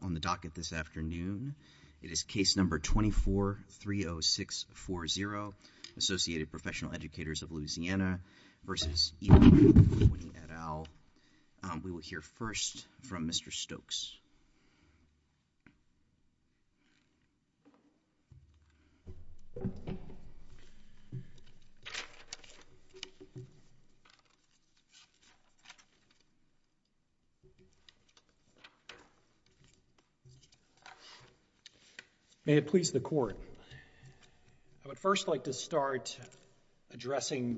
on the docket this afternoon. It is case number 24-30640, Associated Professional Educators of Louisiana v. EDU20 et al. We will hear first from Mr. Stokes. May it please the Court. I would first like to start addressing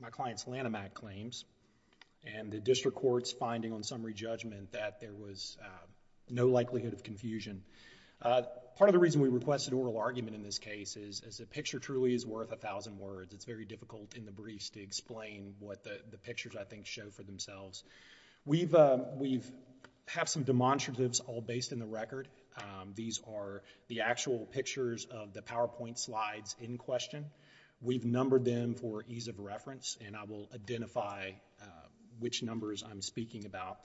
my client's Lanham Act claims and the District Court's finding on summary judgment that there was no likelihood of confusion. Part of the reason we requested oral argument in this case is a picture truly is worth a thousand words. It's very difficult in the briefs to explain what the pictures I think show for themselves. We have some demonstratives all based in the record. These are the actual pictures of the PowerPoint slides in question. We've numbered them for ease of reference and I will identify which numbers I'm speaking about.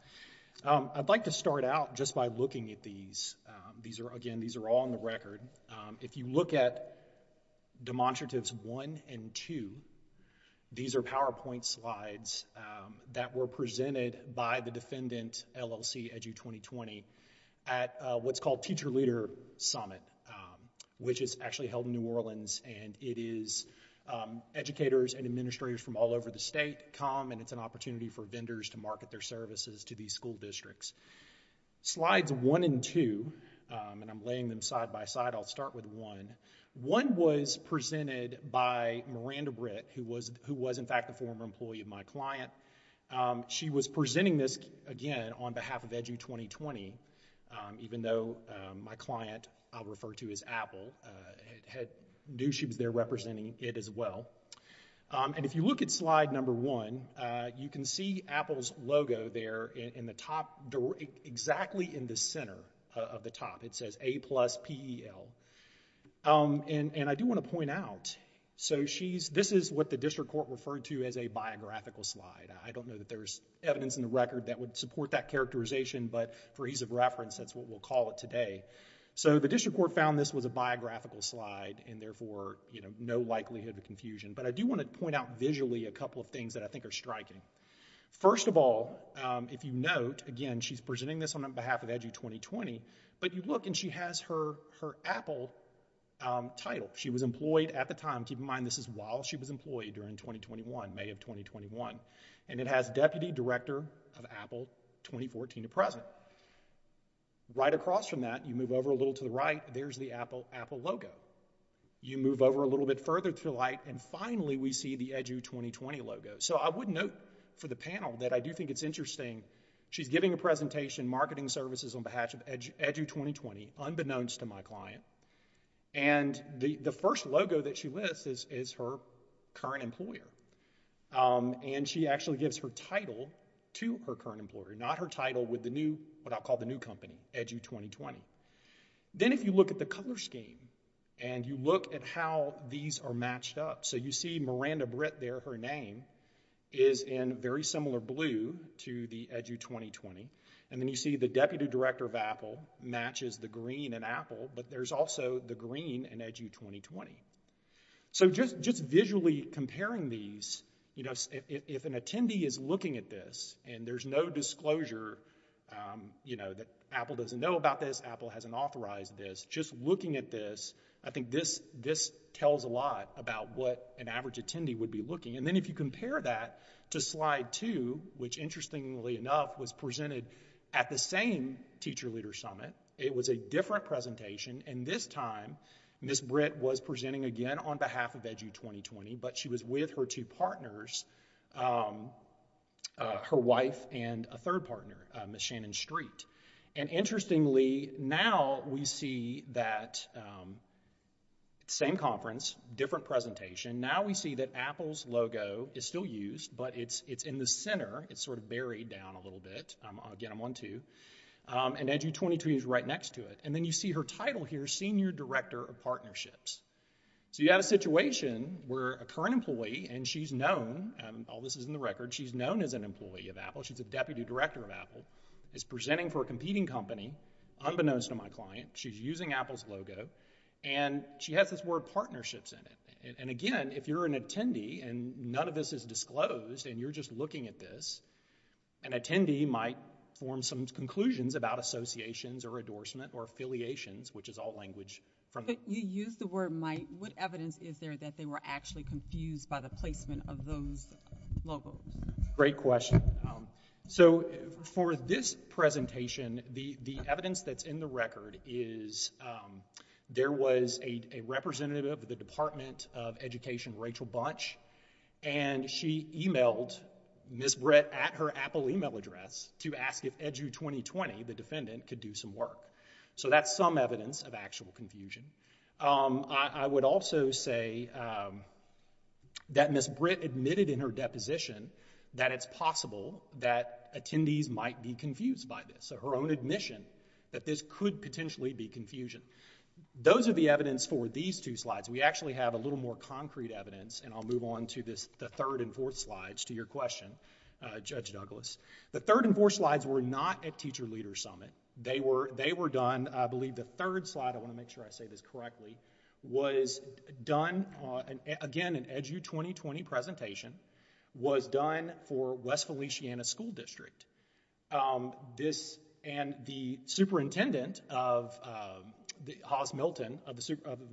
I'd like to start out just by looking at these. Again, these are all on the record. If you look at Demonstratives 1 and 2, these are PowerPoint slides that were presented by the Defendant LLC EDU2020 at what's called Teacher Leader Summit, which is actually held in New Orleans. It is educators and administrators from all over the state come and it's an opportunity for vendors to market their services to these school districts. Slides 1 and 2, and I'm laying them side-by-side, I'll start with 1. 1 was presented by Miranda Britt, who was in fact a former employee of my client. She was presenting this, again, on behalf of EDU2020, even though my client I'll refer to as Apple knew she was there representing it as well. If you look at slide number 1, you can see Apple's logo there in the top, exactly in the center of the top. It says A-Plus P-E-L. I do want to point out, this is what the District Court referred to as a biographical slide. I don't know that there's evidence in the record that would support that characterization, but for ease of reference, that's what we'll call it today. The District Court found this was a biographical slide and therefore no likelihood of confusion, but I do want to point out visually a couple of things that I think are striking. First of all, if you note, again, she's presenting this on behalf of EDU2020, but you look and she has her Apple title. She was employed at the time, keep in mind this is while she was employed during 2021, May of 2021, and it has Deputy Director of Apple 2014 to present. Right across from that, you move over a little to the right, there's the Apple logo. You move over a little bit further to the right and finally we see the EDU2020 logo. So, I would note for the panel that I do think it's interesting. She's giving a presentation, Marketing Services on behalf of EDU2020, unbeknownst to my client, and the first logo that she lists is her current employer. And she actually gives her title to her current employer, not her title with the new, what I'll call the new company, EDU2020. Then if you look at the color scheme and you look at how these are matched up, so you see Miranda Britt there, her name, is in very similar blue to the EDU2020. And then you see the Deputy Director of Apple matches the green in Apple, but there's also the green in EDU2020. So, just visually comparing these, you know, if an attendee is looking at this and there's no disclosure, you know, that Apple doesn't know about this, Apple hasn't authorized this, just looking at this, I think this tells a lot about what an average attendee would be looking. And then if you compare that to slide two, which interestingly enough was presented at the same Teacher Leader Summit, it was a different presentation, and this time Ms. Britt was presenting again on behalf of EDU2020, but she was with her two partners, her wife and a third partner, Ms. Shannon Street. And interestingly, now we see that same conference, different presentation, now we see that Apple's logo is still used, but it's in the center, it's sort of buried down a little bit, again I'm on two, and EDU2020 is right next to it. And then you see her title here, Senior Director of Partnerships. So, you have a situation where a current employee, and she's known, all this is in the record, she's known as an employee of Apple, she's a Deputy Director of Apple, is presenting for a competing company unbeknownst to my client, she's using Apple's logo, and she has this word partnerships in it. And again, if you're an attendee, and none of this is disclosed, and you're just looking at this, an attendee might form some conclusions about associations or endorsement or affiliations, which is all language from... But you used the word might, what evidence is there that they were actually confused by the placement of those logos? Great question. So, for this presentation, the evidence that's in the record is, there was a representative of the Department of Education, Rachel Bunch, and she emailed Ms. Britt at her Apple email address to ask if EDU2020, the defendant, could do some work. So that's some evidence of actual confusion. I would also say that Ms. Britt admitted in her deposition that it's possible that attendees might be confused by this, so her own admission that this could potentially be confusion. Those are the evidence for these two slides. We actually have a little more concrete evidence, and I'll move on to the third and fourth slides to your question, Judge Douglas. The third and fourth slides were not at Teacher Leaders Summit. They were done, I believe, the third slide, I want to make sure I say this correctly, was done, again, an EDU2020 presentation, was done for West Feliciana School District. The superintendent, Haas Milton, of the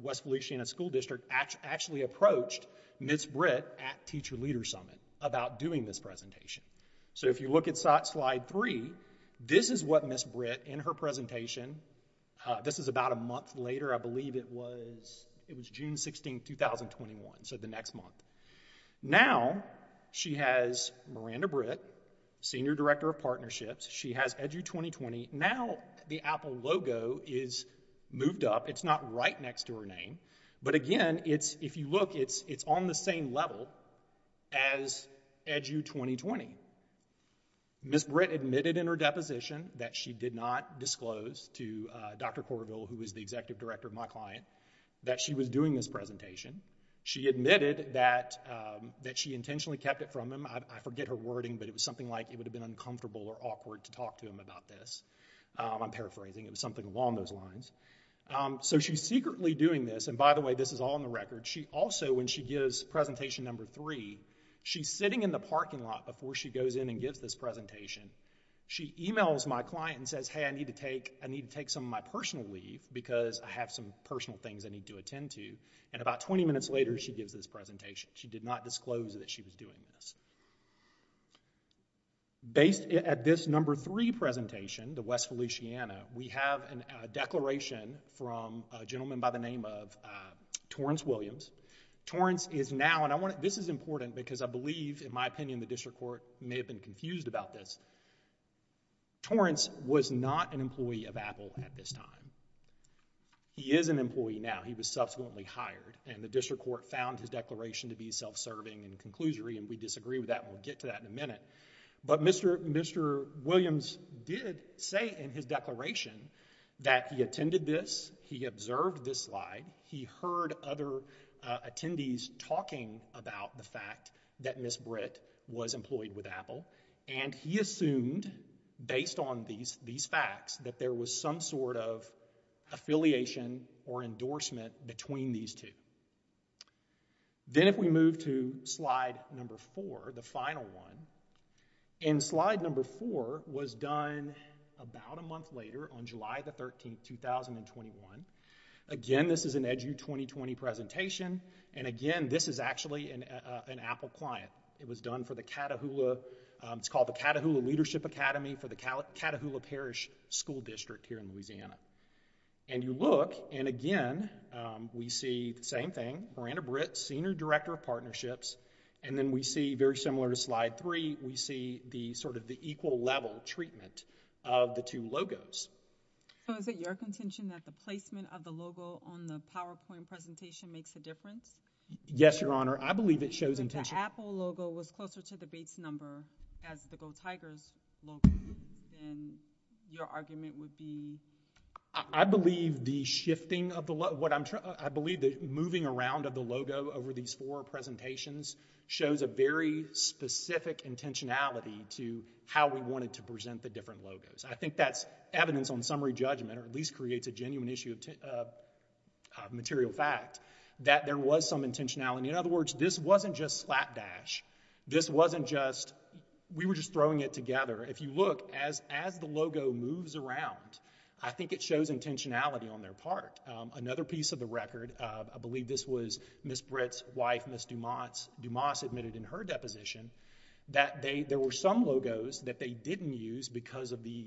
West Feliciana School District actually approached Ms. Britt at Teacher Leaders Summit about doing this presentation. So, if you look at slide three, this is what Ms. Britt, in her presentation, this is about a month later, I believe it was June 16th, 2021, so the next month. Now, she has Miranda Britt, Senior Director of Partnerships. She has EDU2020. Now, the Apple logo is moved up. It's not right next to her name, but again, if you look, it's on the same level as EDU2020. Ms. Britt admitted in her deposition that she did not disclose to Dr. Corville, who is the Executive Director of my client, that she was doing this presentation. She admitted that she intentionally kept it from him. I forget her wording, but it was something like it would have been uncomfortable or awkward to talk to him about this. I'm paraphrasing. It was something along those lines. So, she's secretly doing this, and by the way, this is all in the record. She also, when she gives presentation number three, she's sitting in the parking lot before she goes in and gives this presentation. She emails my client and says, hey, I need to take some of my personal leave because I have some personal things I need to attend to, and about 20 minutes later, she gives this presentation. She did not disclose that she was doing this. Based at this number three presentation, the West Feliciana, we have a declaration from a gentleman by the name of Torrence Williams. Torrence is now, and this is important because I believe, in my opinion, the district court may have been confused about this. Torrence was not an employee of Apple at this time. He is an employee now. He was subsequently hired, and the district court found his declaration to be self-serving and conclusory, and we disagree with that, and we'll get to that in a minute, but Mr. Williams did say in his declaration that he attended this, he observed this slide, he heard other attendees talking about the fact that Ms. Britt was employed with Apple, and he assumed, based on these facts, that there was some sort of affiliation or endorsement between these two. Then if we move to slide number four, the final one, and slide number four was done about a month later on July the 13th, 2021. Again, this is an EDU 2020 presentation, and again, this is actually an Apple client. It was done for the Cattahoula, it's called the Cattahoula Leadership Academy for the Cattahoula Parish School District here in Louisiana, and you look, and again, we see the same thing, Miranda Britt, Senior Director of Partnerships, and then we see, very similar to slide three, we see the sort of Apple-level treatment of the two logos. So is it your contention that the placement of the logo on the PowerPoint presentation makes a difference? Yes, Your Honor. I believe it shows intention. If the Apple logo was closer to the Bates number as the Go Tigers logo, then your argument would be? I believe the shifting of the, what I'm, I believe the moving around of the logo over these four presentations shows a very specific intentionality to how we wanted to present the different logos. I think that's evidence on summary judgment, or at least creates a genuine issue of material fact, that there was some intentionality. In other words, this wasn't just slapdash, this wasn't just, we were just throwing it together. If you look, as the logo moves around, I think it shows intentionality on their part. Another piece of the record, I believe this was Ms. Britt's wife, Ms. Dumas, Dumas admitted in her deposition that they, there were some logos that they didn't use because of the,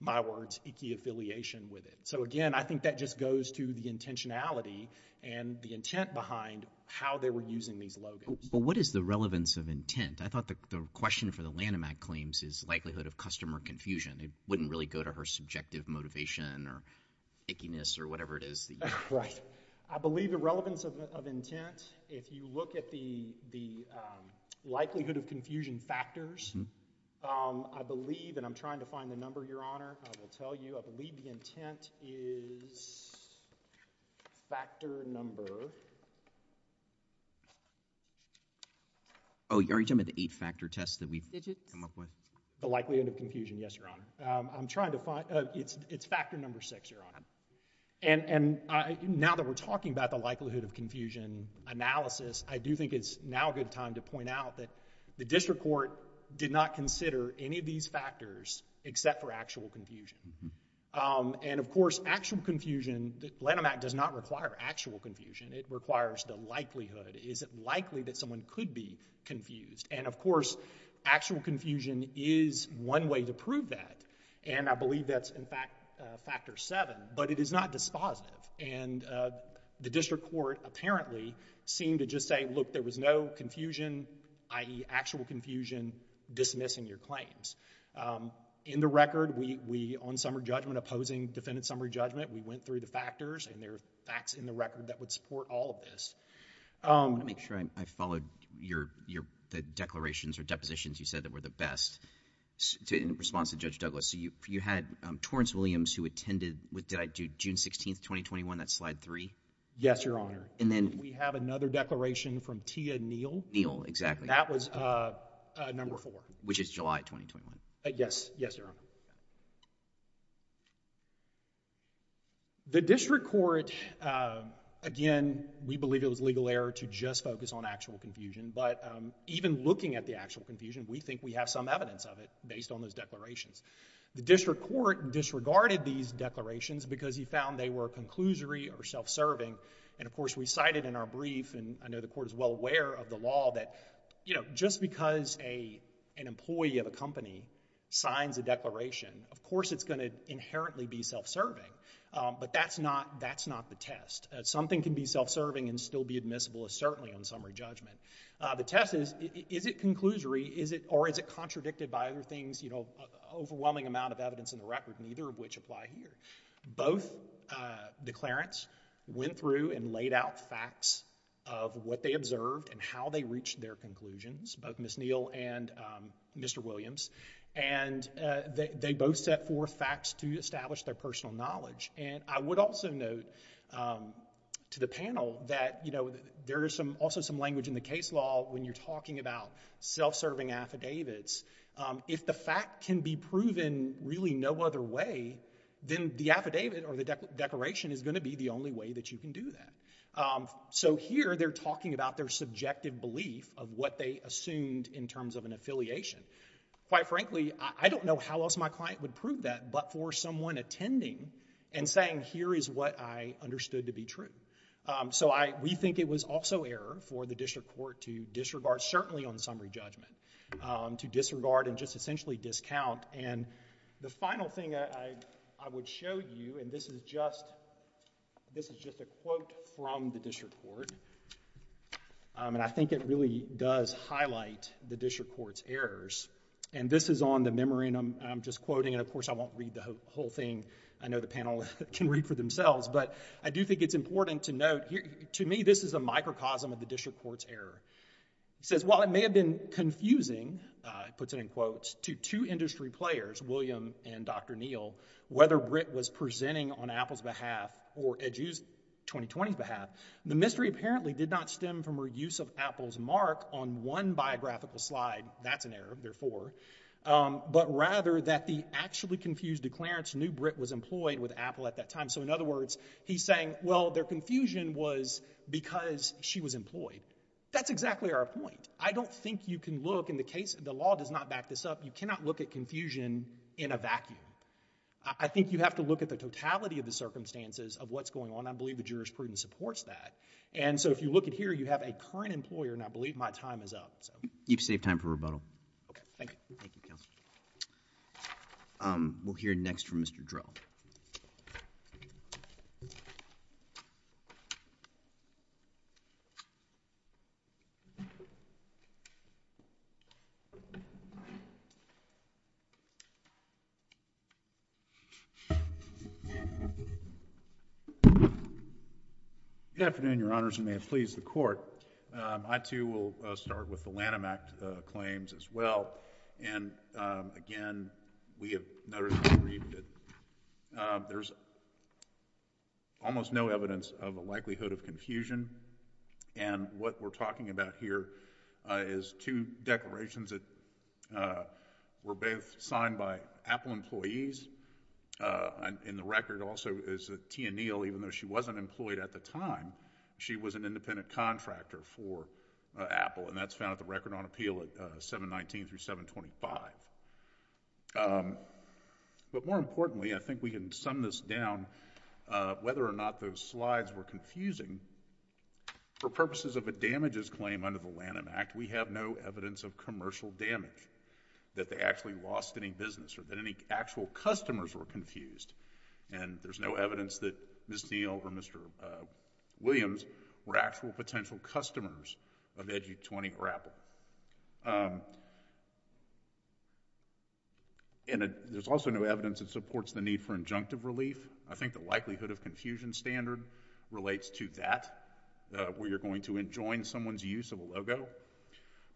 my words, icky affiliation with it. So again, I think that just goes to the intentionality and the intent behind how they were using these logos. But what is the relevance of intent? I thought the question for the Lanham Act claims is likelihood of customer confusion. It wouldn't really go to her subjective motivation or ickiness or whatever it is that you have. Right. I believe the relevance of intent, if you look at the likelihood of confusion factors, I believe, and I'm trying to find the number, Your Honor, I will tell you, I believe the intent is factor number. Oh, are you talking about the eight factor test that we've come up with? The likelihood of confusion. Yes, Your Honor. I'm trying to find, it's, it's factor number six, Your Honor. And, and I, now that we're talking about the likelihood of confusion analysis, I do think it's now a good time to point out that the district court did not consider any of these factors except for actual confusion. And of course, actual confusion, Lanham Act does not require actual confusion. It requires the likelihood. Is it likely that someone could be confused? And of course, actual confusion is one way to prove that. And I believe that's, in fact, factor seven, but it is not dispositive. And the district court apparently seemed to just say, look, there was no confusion, i.e. actual confusion dismissing your claims. In the record, we, we, on summary judgment opposing defendant summary judgment, we went through the factors and there are facts in the record that would support all of this. Let me make sure I followed your, your, the declarations or depositions you said that were the best in response to Judge Douglas. So you, you had Torrance Williams who attended with, did I do June 16th, 2021? That's slide three? Yes, Your Honor. And then we have another declaration from Tia Neal. Neal, exactly. That was number four. Which is July 2021. Yes. Yes, Your Honor. The district court, again, we believe it was legal error to just focus on actual confusion. But even looking at the actual confusion, we think we have some evidence of it based on those declarations. The district court disregarded these declarations because he found they were conclusory or self-serving. And of course, we cited in our brief and I know the court is well aware of the law that, you know, just because a, an employee of a company signs a declaration, of course it's going to inherently be self-serving. But that's not, that's not the test. Something can be self-serving and still be admissible as certainly on summary judgment. The test is, is it conclusory? Is it, or is it contradicted by other things? You know, overwhelming amount of evidence in the record, neither of which apply here. Both declarants went through and laid out facts of what they observed and how they reached their conclusions, both Ms. Neal and Mr. Williams. And they, they both set forth facts to establish their personal knowledge. And I would also note to the panel that, you know, there is some, also some language in the case law when you're talking about self-serving affidavits. If the fact can be proven really no other way, then the affidavit or the declaration is going to be the only way that you can do that. So here they're talking about their subjective belief of what they assumed in terms of an affiliation. Quite frankly, I don't know how else my client would prove that but for someone attending and saying, here is what I understood to be true. So I, we think it was also error for the district court to disregard, certainly on summary judgment, to disregard and just essentially discount. And the final thing I, I would show you, and this is just, this is just a quote from the district court. Um, and I think it really does highlight the district court's errors. And this is on the memory and I'm, I'm just quoting and of course I won't read the whole thing. I know the panel can read for themselves, but I do think it's important to note here, to me this is a microcosm of the district court's error. It says, while it may have been confusing, uh, it puts it in quotes, to two industry players, William and Dr. Neal, whether Britt was presenting on Apple's behalf or Edu's 2020's behalf. The mystery apparently did not stem from her use of Apple's mark on one biographical slide. That's an error, therefore. Um, but rather that the actually confused declarants knew Britt was employed with Apple at that time. So in other words, he's saying, well, their confusion was because she was employed. That's exactly our point. I don't think you can look, in the case, the law does not back this up, you cannot look at confusion in a vacuum. I think you have to look at the totality of the circumstances of what's going on. I believe the jurisprudence supports that. And so if you look at here, you have a current employer and I believe my time is up, so. You've saved time for rebuttal. Okay, thank you. Um, we'll hear next from Mr. Drell. Good afternoon, Your Honors, and may it please the Court. Um, I too will start with the Lanham Act claims as well. And, um, again, we have noticed and agreed that, um, there's almost no evidence of a likelihood of confusion. And what we're talking about here, uh, is two declarations that, uh, were both signed by Apple employees. Uh, and in the record also is that Tia Neal, even though she wasn't employed at the time, she was an independent contractor for, uh, Apple. And that's found at the Record on Appeal at, uh, 719-725. Um, but more importantly, and I think we can sum this down, uh, whether or not those slides were confusing, for purposes of a damages claim under the Lanham Act, we have no evidence of commercial damage, that they actually lost any business, or that any actual customers were confused. And there's no evidence that Ms. Neal or Mr. Williams were actual potential customers of Edgy 20 or Apple. Um, and there's also no evidence that supports the need for injunctive relief. I think the likelihood of confusion standard relates to that, uh, where you're going to enjoin someone's use of a logo.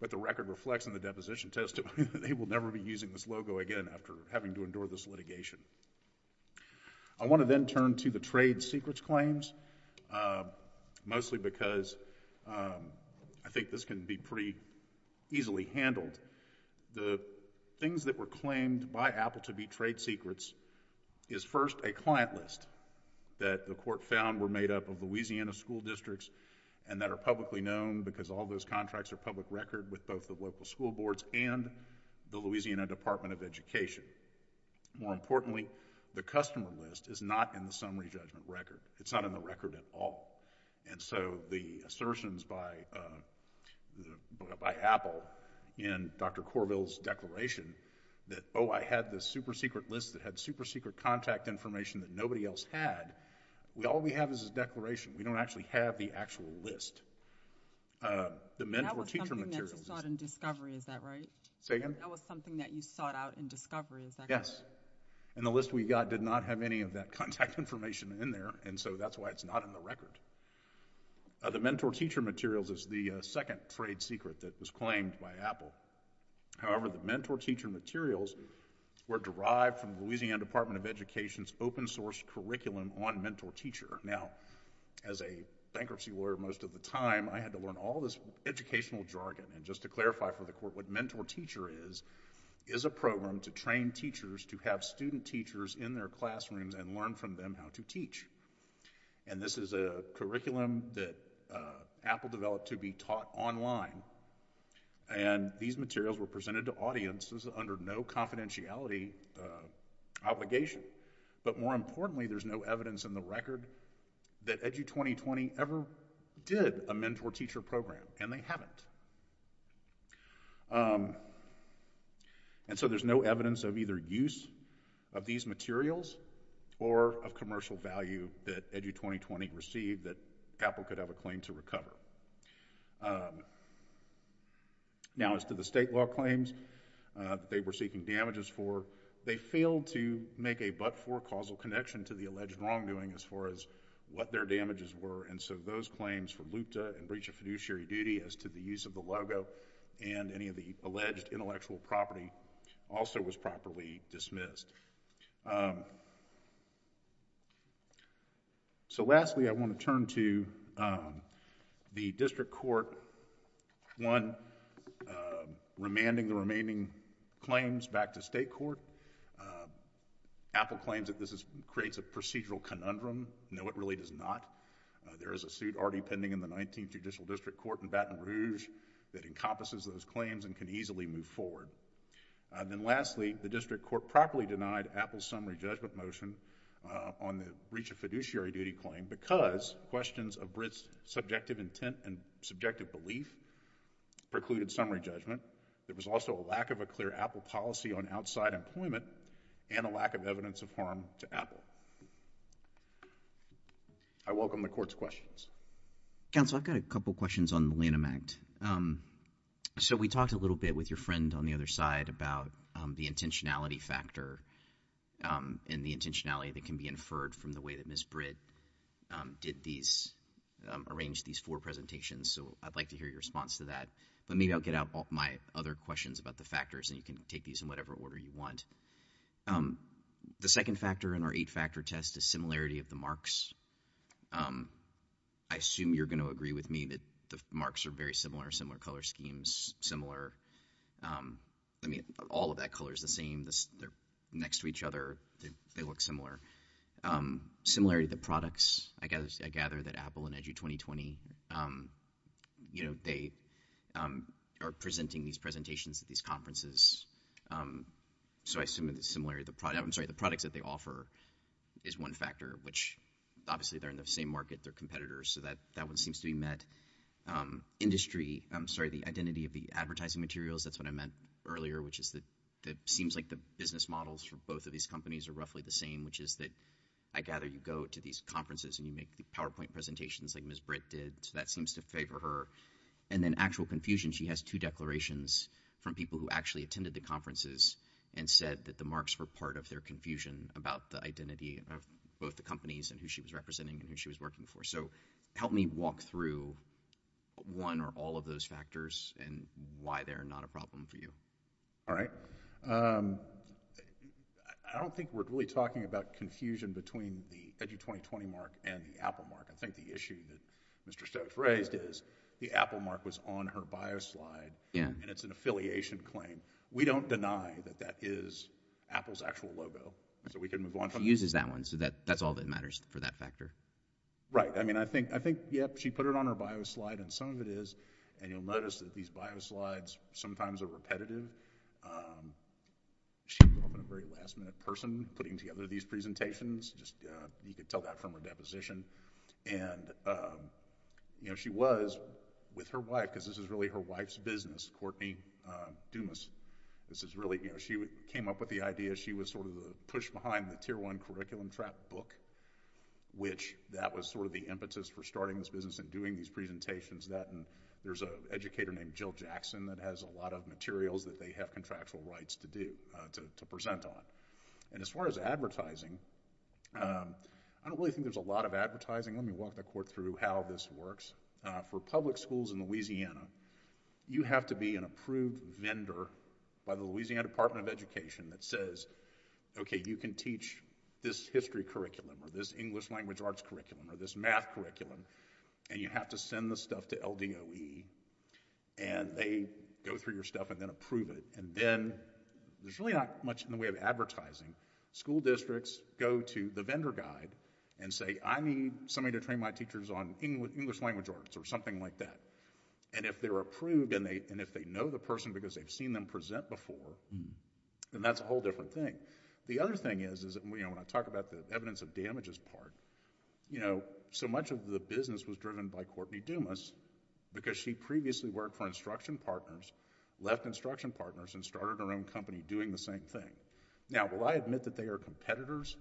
But the record reflects in the deposition testimony that they will never be using this logo again after having to endure this litigation. I want to then turn to the trade secrets claims, uh, mostly because, um, I think this can be pretty easily handled. The things that were claimed by Apple to be trade secrets is first a client list that the court found were made up of Louisiana school districts, and that are publicly known because all those contracts are public record with both the local school boards and the Louisiana Department of Education. More importantly, the customer list is not in the summary judgment record. It's not in the record at all. And the assertions by, uh, by Apple in Dr. Corbill's declaration that, oh, I had this super-secret list that had super-secret contact information that nobody else had, all we have is a declaration. We don't actually have the actual list. Uh, the mentor teacher material. That was something that you sought in discovery, is that right? Say again? That was something that you sought out in discovery, is that correct? Yes. And the list we got did not have any of that contact information in there, and so that's why it's not in the record. Uh, the mentor teacher materials is the, uh, second trade secret that was claimed by Apple. However, the mentor teacher materials were derived from Louisiana Department of Education's open source curriculum on mentor teacher. Now, as a bankruptcy lawyer most of the time, I had to learn all this educational jargon, and just to clarify for the court, what mentor teacher is, is a program to train teachers to have student teachers in their classrooms and learn from them how to teach. And this is a curriculum that, uh, Apple developed to be taught online, and these materials were presented to audiences under no confidentiality, uh, obligation. But more importantly, there's no evidence in the record that Edu2020 ever did a mentor teacher program, and they haven't. Um, and so there's no evidence of either use of these materials or of commercial value that Edu2020 received that Apple could have a claim to recover. Um, now as to the state law claims, uh, they were seeking damages for, they failed to make a but-for causal connection to the alleged wrongdoing as far as what their damages were, and so those claims for luta and breach of fiduciary duty as to the use of the logo and any of the alleged intellectual property also was properly dismissed. Um, so lastly I want to turn to, um, the district court one, uh, remanding the remaining claims back to state court. Uh, Apple claims that this is, creates a procedural conundrum. No, it really does not. Uh, there is a suit already pending in the 19th Judicial District Court in Baton Rouge that encompasses those claims and can easily move forward. Uh, then lastly, the district court properly denied Apple's summary judgment motion, uh, on the breach of fiduciary duty claim because questions of Britt's subjective intent and subjective belief precluded summary judgment. There was also a lack of a clear Apple policy on outside employment and a lack of evidence of harm to Apple. I welcome the court's questions. Counsel, I've got a couple of questions on the Lanham Act. Um, so we talked a little bit with your friend on the other side about, um, the intentionality factor, um, and the intentionality that can be inferred from the way that Ms. Britt, um, did these, um, arranged these four presentations, so I'd like to hear your response to that. But maybe I'll get out all my other questions about the factors and you can take these in whatever order you want. Um, the second factor in our eight factor test is similarity of the marks. Um, I assume you're going to agree with me that the marks are very similar, similar color schemes, similar, um, I mean, all of that color is the same, they're next to each other, they look similar. Um, similarity of the products, I gather that Apple and Edu2020, um, you know, they, um, are presenting these presentations at these conferences, um, so I assume that the similarity of the product, I'm sorry, the products that they offer is one factor, which obviously they're in the same market, they're competitors, so that, that one seems to be met. Um, industry, I'm sorry, the identity of the advertising materials, that's what I meant earlier, which is that, that seems like the business models for both of these companies are roughly the same, which is that, I gather you go to these conferences and you make the PowerPoint presentations like Ms. Britt did, so that seems to favor her. And then actual confusion, she has two declarations from people who actually attended the conferences and said that the marks were part of their confusion about the identity of both the companies and who she was representing and who she was working for. So, help me walk through one or all of those factors and why they're not a problem for you. All right. Um, I don't think we're really talking about confusion between the Edu2020 mark and the Apple mark. I think the issue that Mr. Stokes raised is the Apple mark was on her bio slide and it's an affiliation claim. We don't deny that that is Apple's actual logo. So, we can move on from that. She uses that one, so that, that's all that matters for that factor. Right. I mean, I think, I think, yep, she put it on her bio slide and some of it is, and you'll notice that these bio slides sometimes are repetitive. Um, she was often a very last minute person putting together these presentations. Just, uh, you could tell that from her deposition. And, um, you know, she was with her wife, cause this is really her wife's business, Courtney, uh, Dumas. This is really, you know, she came up with the idea. She was sort of the push behind the tier one curriculum trap book, which that was sort of the impetus for starting this business and doing these presentations that, and there's a educator named Jill Jackson that has a lot of materials that they have contractual rights to do, uh, to, to present on. And as far as advertising, um, I don't really think there's a lot of advertising. Let me walk the court through how this works. Uh, for public schools in Louisiana, you have to be an approved vendor by the Louisiana Department of Education that says, okay, you can teach this history curriculum or this English language arts curriculum or this math curriculum, and you have to send the stuff to LDOE and they go through your stuff and then approve it. And then, there's really not much in the way of advertising. School districts go to the vendor guide and say, I need somebody to train my teachers on English language arts or something like that. And if they're approved and they, and if they know the person because they've seen them present before, then that's a whole different thing. The other thing is, is that, you know, when I talk about the evidence of damages part, you know, so much of the business was driven by Courtney Dumas because she previously worked for instruction partners, left instruction partners, and started her own company doing the same thing. Now, will I admit that they are competitors?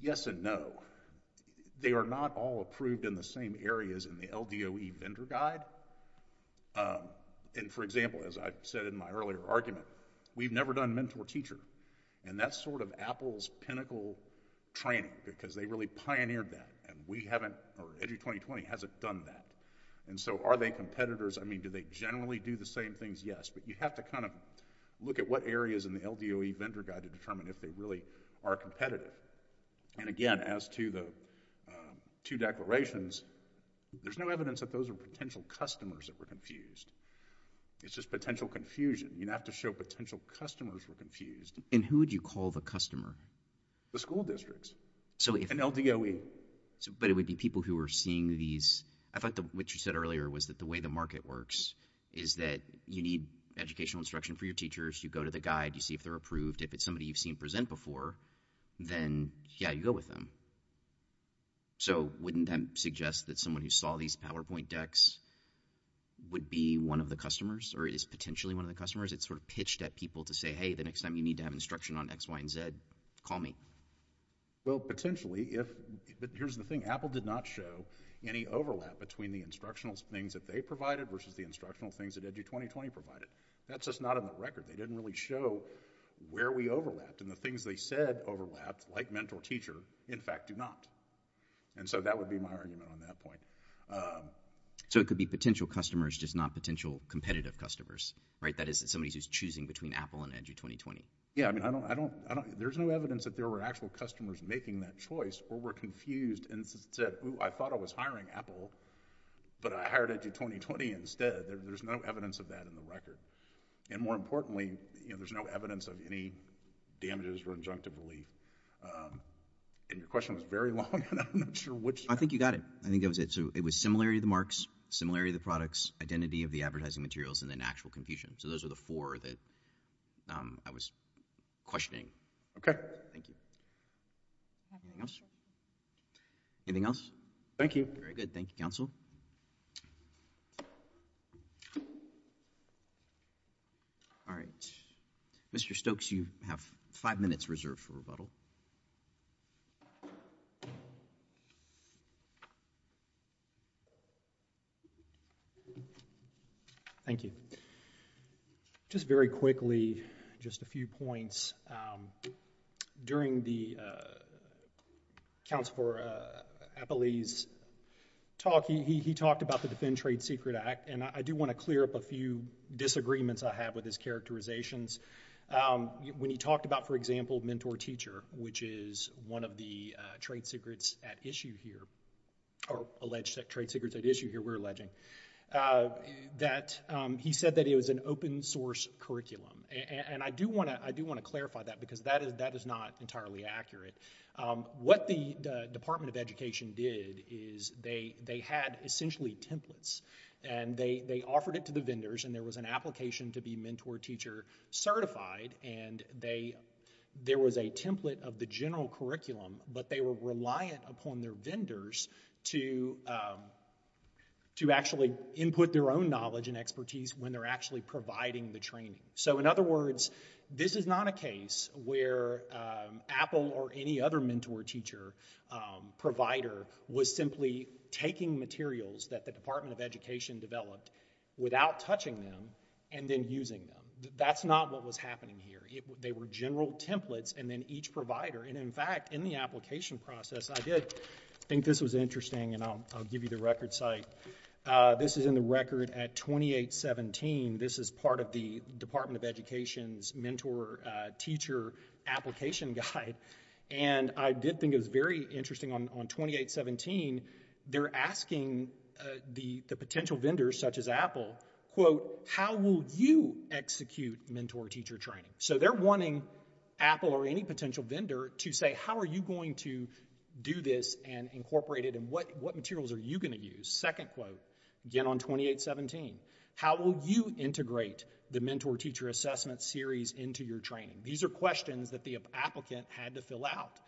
Yes and no. They are not all approved in the same areas in the LDOE vendor guide. Um, and for example, as I've said in my earlier argument, we've never done mentor teacher. And that's sort of Apple's pinnacle training because they really pioneered that. And we haven't, or EDU 2020 hasn't done that. And so, are they competitors? I mean, do they generally do the same things? Yes, but you have to kind of look at what areas in the LDOE vendor guide to determine if they really are competitive. And again, as to the two declarations, there's no evidence that those are potential customers that were confused. It's just potential confusion. You'd have to show potential customers were confused. And who would you call the customer? The school districts. So if... And LDOE. So, but it would be people who are seeing these... I thought that what you said earlier was that the way the market works is that you need educational instruction for your teachers. You go to the guide. You see if they're approved. If it's somebody you've seen present before, then yeah, you go with them. So, wouldn't that suggest that someone who saw these PowerPoint decks would be one of the customers, or is potentially one of the customers? It's sort of pitched at people to say, hey, the next time you need to have instruction on X, Y, and Z, call me. Well, potentially, if... Here's the thing. Apple did not show any overlap between the instructional things that they provided versus the instructional things that EDU2020 provided. That's just not in the record. They didn't really show where we overlapped. And the things they said overlapped, like mentor-teacher, in fact do not. And so that would be my argument on that point. So it could be potential customers, just not potential competitive customers, right? That is, somebody who's choosing between Apple and EDU2020. Yeah, I mean, I don't... There's no evidence that there were actual customers making that choice or were confused and said, ooh, I thought I was hiring Apple, but I hired EDU2020 instead. There's no evidence of that in the record. And more importantly, there's no evidence of any damages or injunctive relief. And your question was very long, and I'm not sure which... I think you got it. I think that was it. So it was similarity of the marks, similarity of the products, identity of the advertising materials, and then actual confusion. So those are the four that I was questioning. Thank you. Anything else? Thank you. Very good. Thank you, counsel. All right. Mr. Stokes, you have five minutes reserved for rebuttal. Thank you. Just very quickly, just a few points. During the counsel for Apple's talk, he talked about the Defend Trade Secret Act, and I do want to clear up a few disagreements I have with his characterizations. When he talked about, for example, Mentor Teacher, which is one of the trade secrets at issue here, or alleged trade secrets at issue here, we're alleging, that he said that it was an open-source curriculum. And I do want to clarify that because that is not entirely accurate. What the Department of Education did is they had essentially templates, and they offered it to the vendors, and there was an application to be Mentor Teacher certified, and there was a template of the general curriculum, but they were reliant upon their vendors to actually input their own knowledge and expertise when they're actually providing the training. So in other words, this is not a case where Apple or any other Mentor Teacher provider was simply taking materials that the Department of Education developed without touching them, and then using them. That's not what was happening here. They were general templates, and then each provider, and in fact, in the application process, I did think this was interesting, and I'll give you the record site. This is in the record at 2817. This is part of the Department of Education's Mentor Teacher application guide, and I did think it was very interesting on 2817, they're asking the potential vendors, such as Apple, quote, how will you execute Mentor Teacher training? So they're wanting Apple or any potential vendor to say, how are you going to do this and incorporate it, and what materials are you going to use? Second quote, again on 2817, how will you integrate the Mentor Teacher assessment series into your training? These are questions that the applicant had to fill out.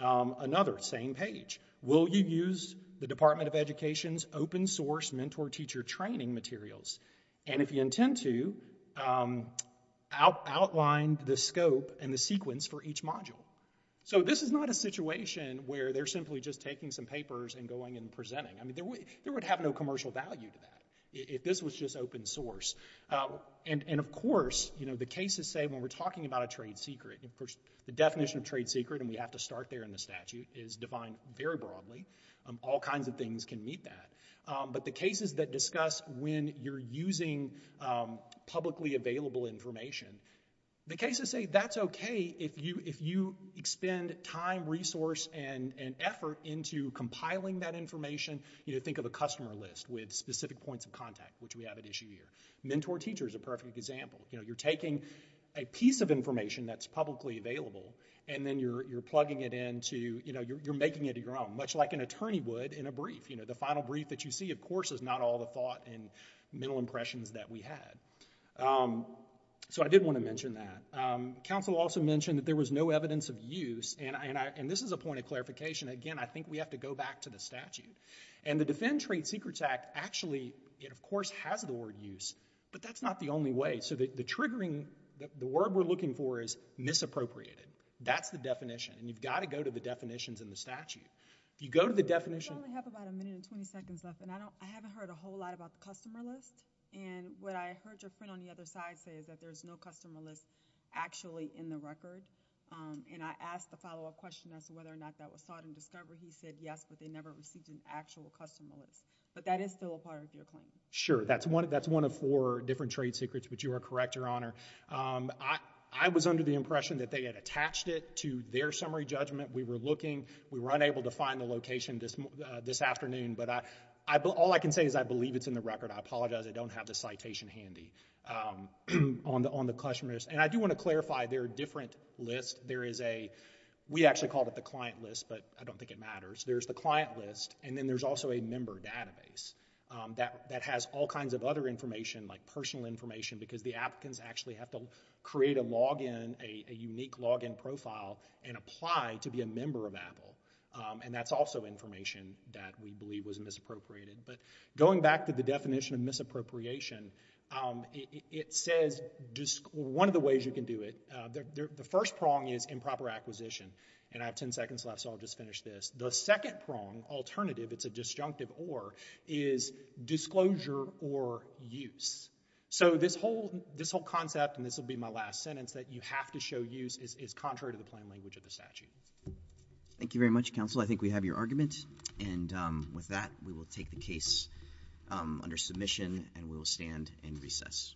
Another, same page, will you use the Department of Education's open source Mentor Teacher training materials? And if you intend to, outline the scope and the sequence for each module. So this is not a situation where they're simply just taking some papers and going and presenting. I mean, there would have no commercial value to that if this was just open source. And of course, you know, the cases say when we're talking about a trade secret, the definition of trade secret, and you have to start there in the statute, is defined very broadly. All kinds of things can meet that. But the cases that discuss when you're using publicly available information, the cases say that's okay if you expend time, resource, and effort into compiling that information. Think of a customer list with specific points of contact, which we have at issue here. Mentor Teacher is a perfect example. You're taking a piece of information that's publicly available, and then you're plugging it in to, you know, you're making it your own, much like an attorney would in a brief. You know, the final brief that you see, of course, is not all the thought and mental impressions that we had. So I did want to mention that. Counsel also mentioned that there was no evidence of use, and this is a point of clarification. Again, I think we have to go back to the statute. And the Defend Trade Secrets Act, actually, it of course has the word use, but that's not the only way. So the triggering, the word we're looking for is misappropriated. That's the definition, and you've got to go to the definitions in the statute. If you go to the definition... We only have about a minute and 20 seconds left, and I haven't heard a whole lot about the customer list. And what I heard your friend on the other side say is that there's no customer list actually in the record. And I asked the follow-up question as to whether or not that was sought in discovery. He said yes, but they never received an actual customer list. But that is still a part of your claim. Sure. That's one of four different trade secrets, but you are correct, Your Honor. I was under the impression that they had attached it to their summary judgment. We were looking. We were unable to find the location this afternoon, but all I can say is I believe it's in the record. I apologize. I don't have the citation handy on the customer list. And I do want to clarify, there are different lists. There is a... We actually called it the client list, but I don't think it matters. There's the client list, and then there's also a member database that has all kinds of other information, like personal information, because the applicants actually have to create a login, a unique login profile, and apply to be a member of Apple. And that's also information that we believe was misappropriated. But going back to the definition of misappropriation, it says... One of the ways you can do it, the first prong is improper acquisition. And I have 10 seconds left, so I'll just finish this. The second prong, alternative, it's a disjunctive or, is disclosure or use. So this whole concept, and this will be my last sentence, that you have to show use is contrary to the plain language of the statute. Thank you very much, counsel. I think we have your argument. And with that, we will take the case under submission, and we will stand in recess.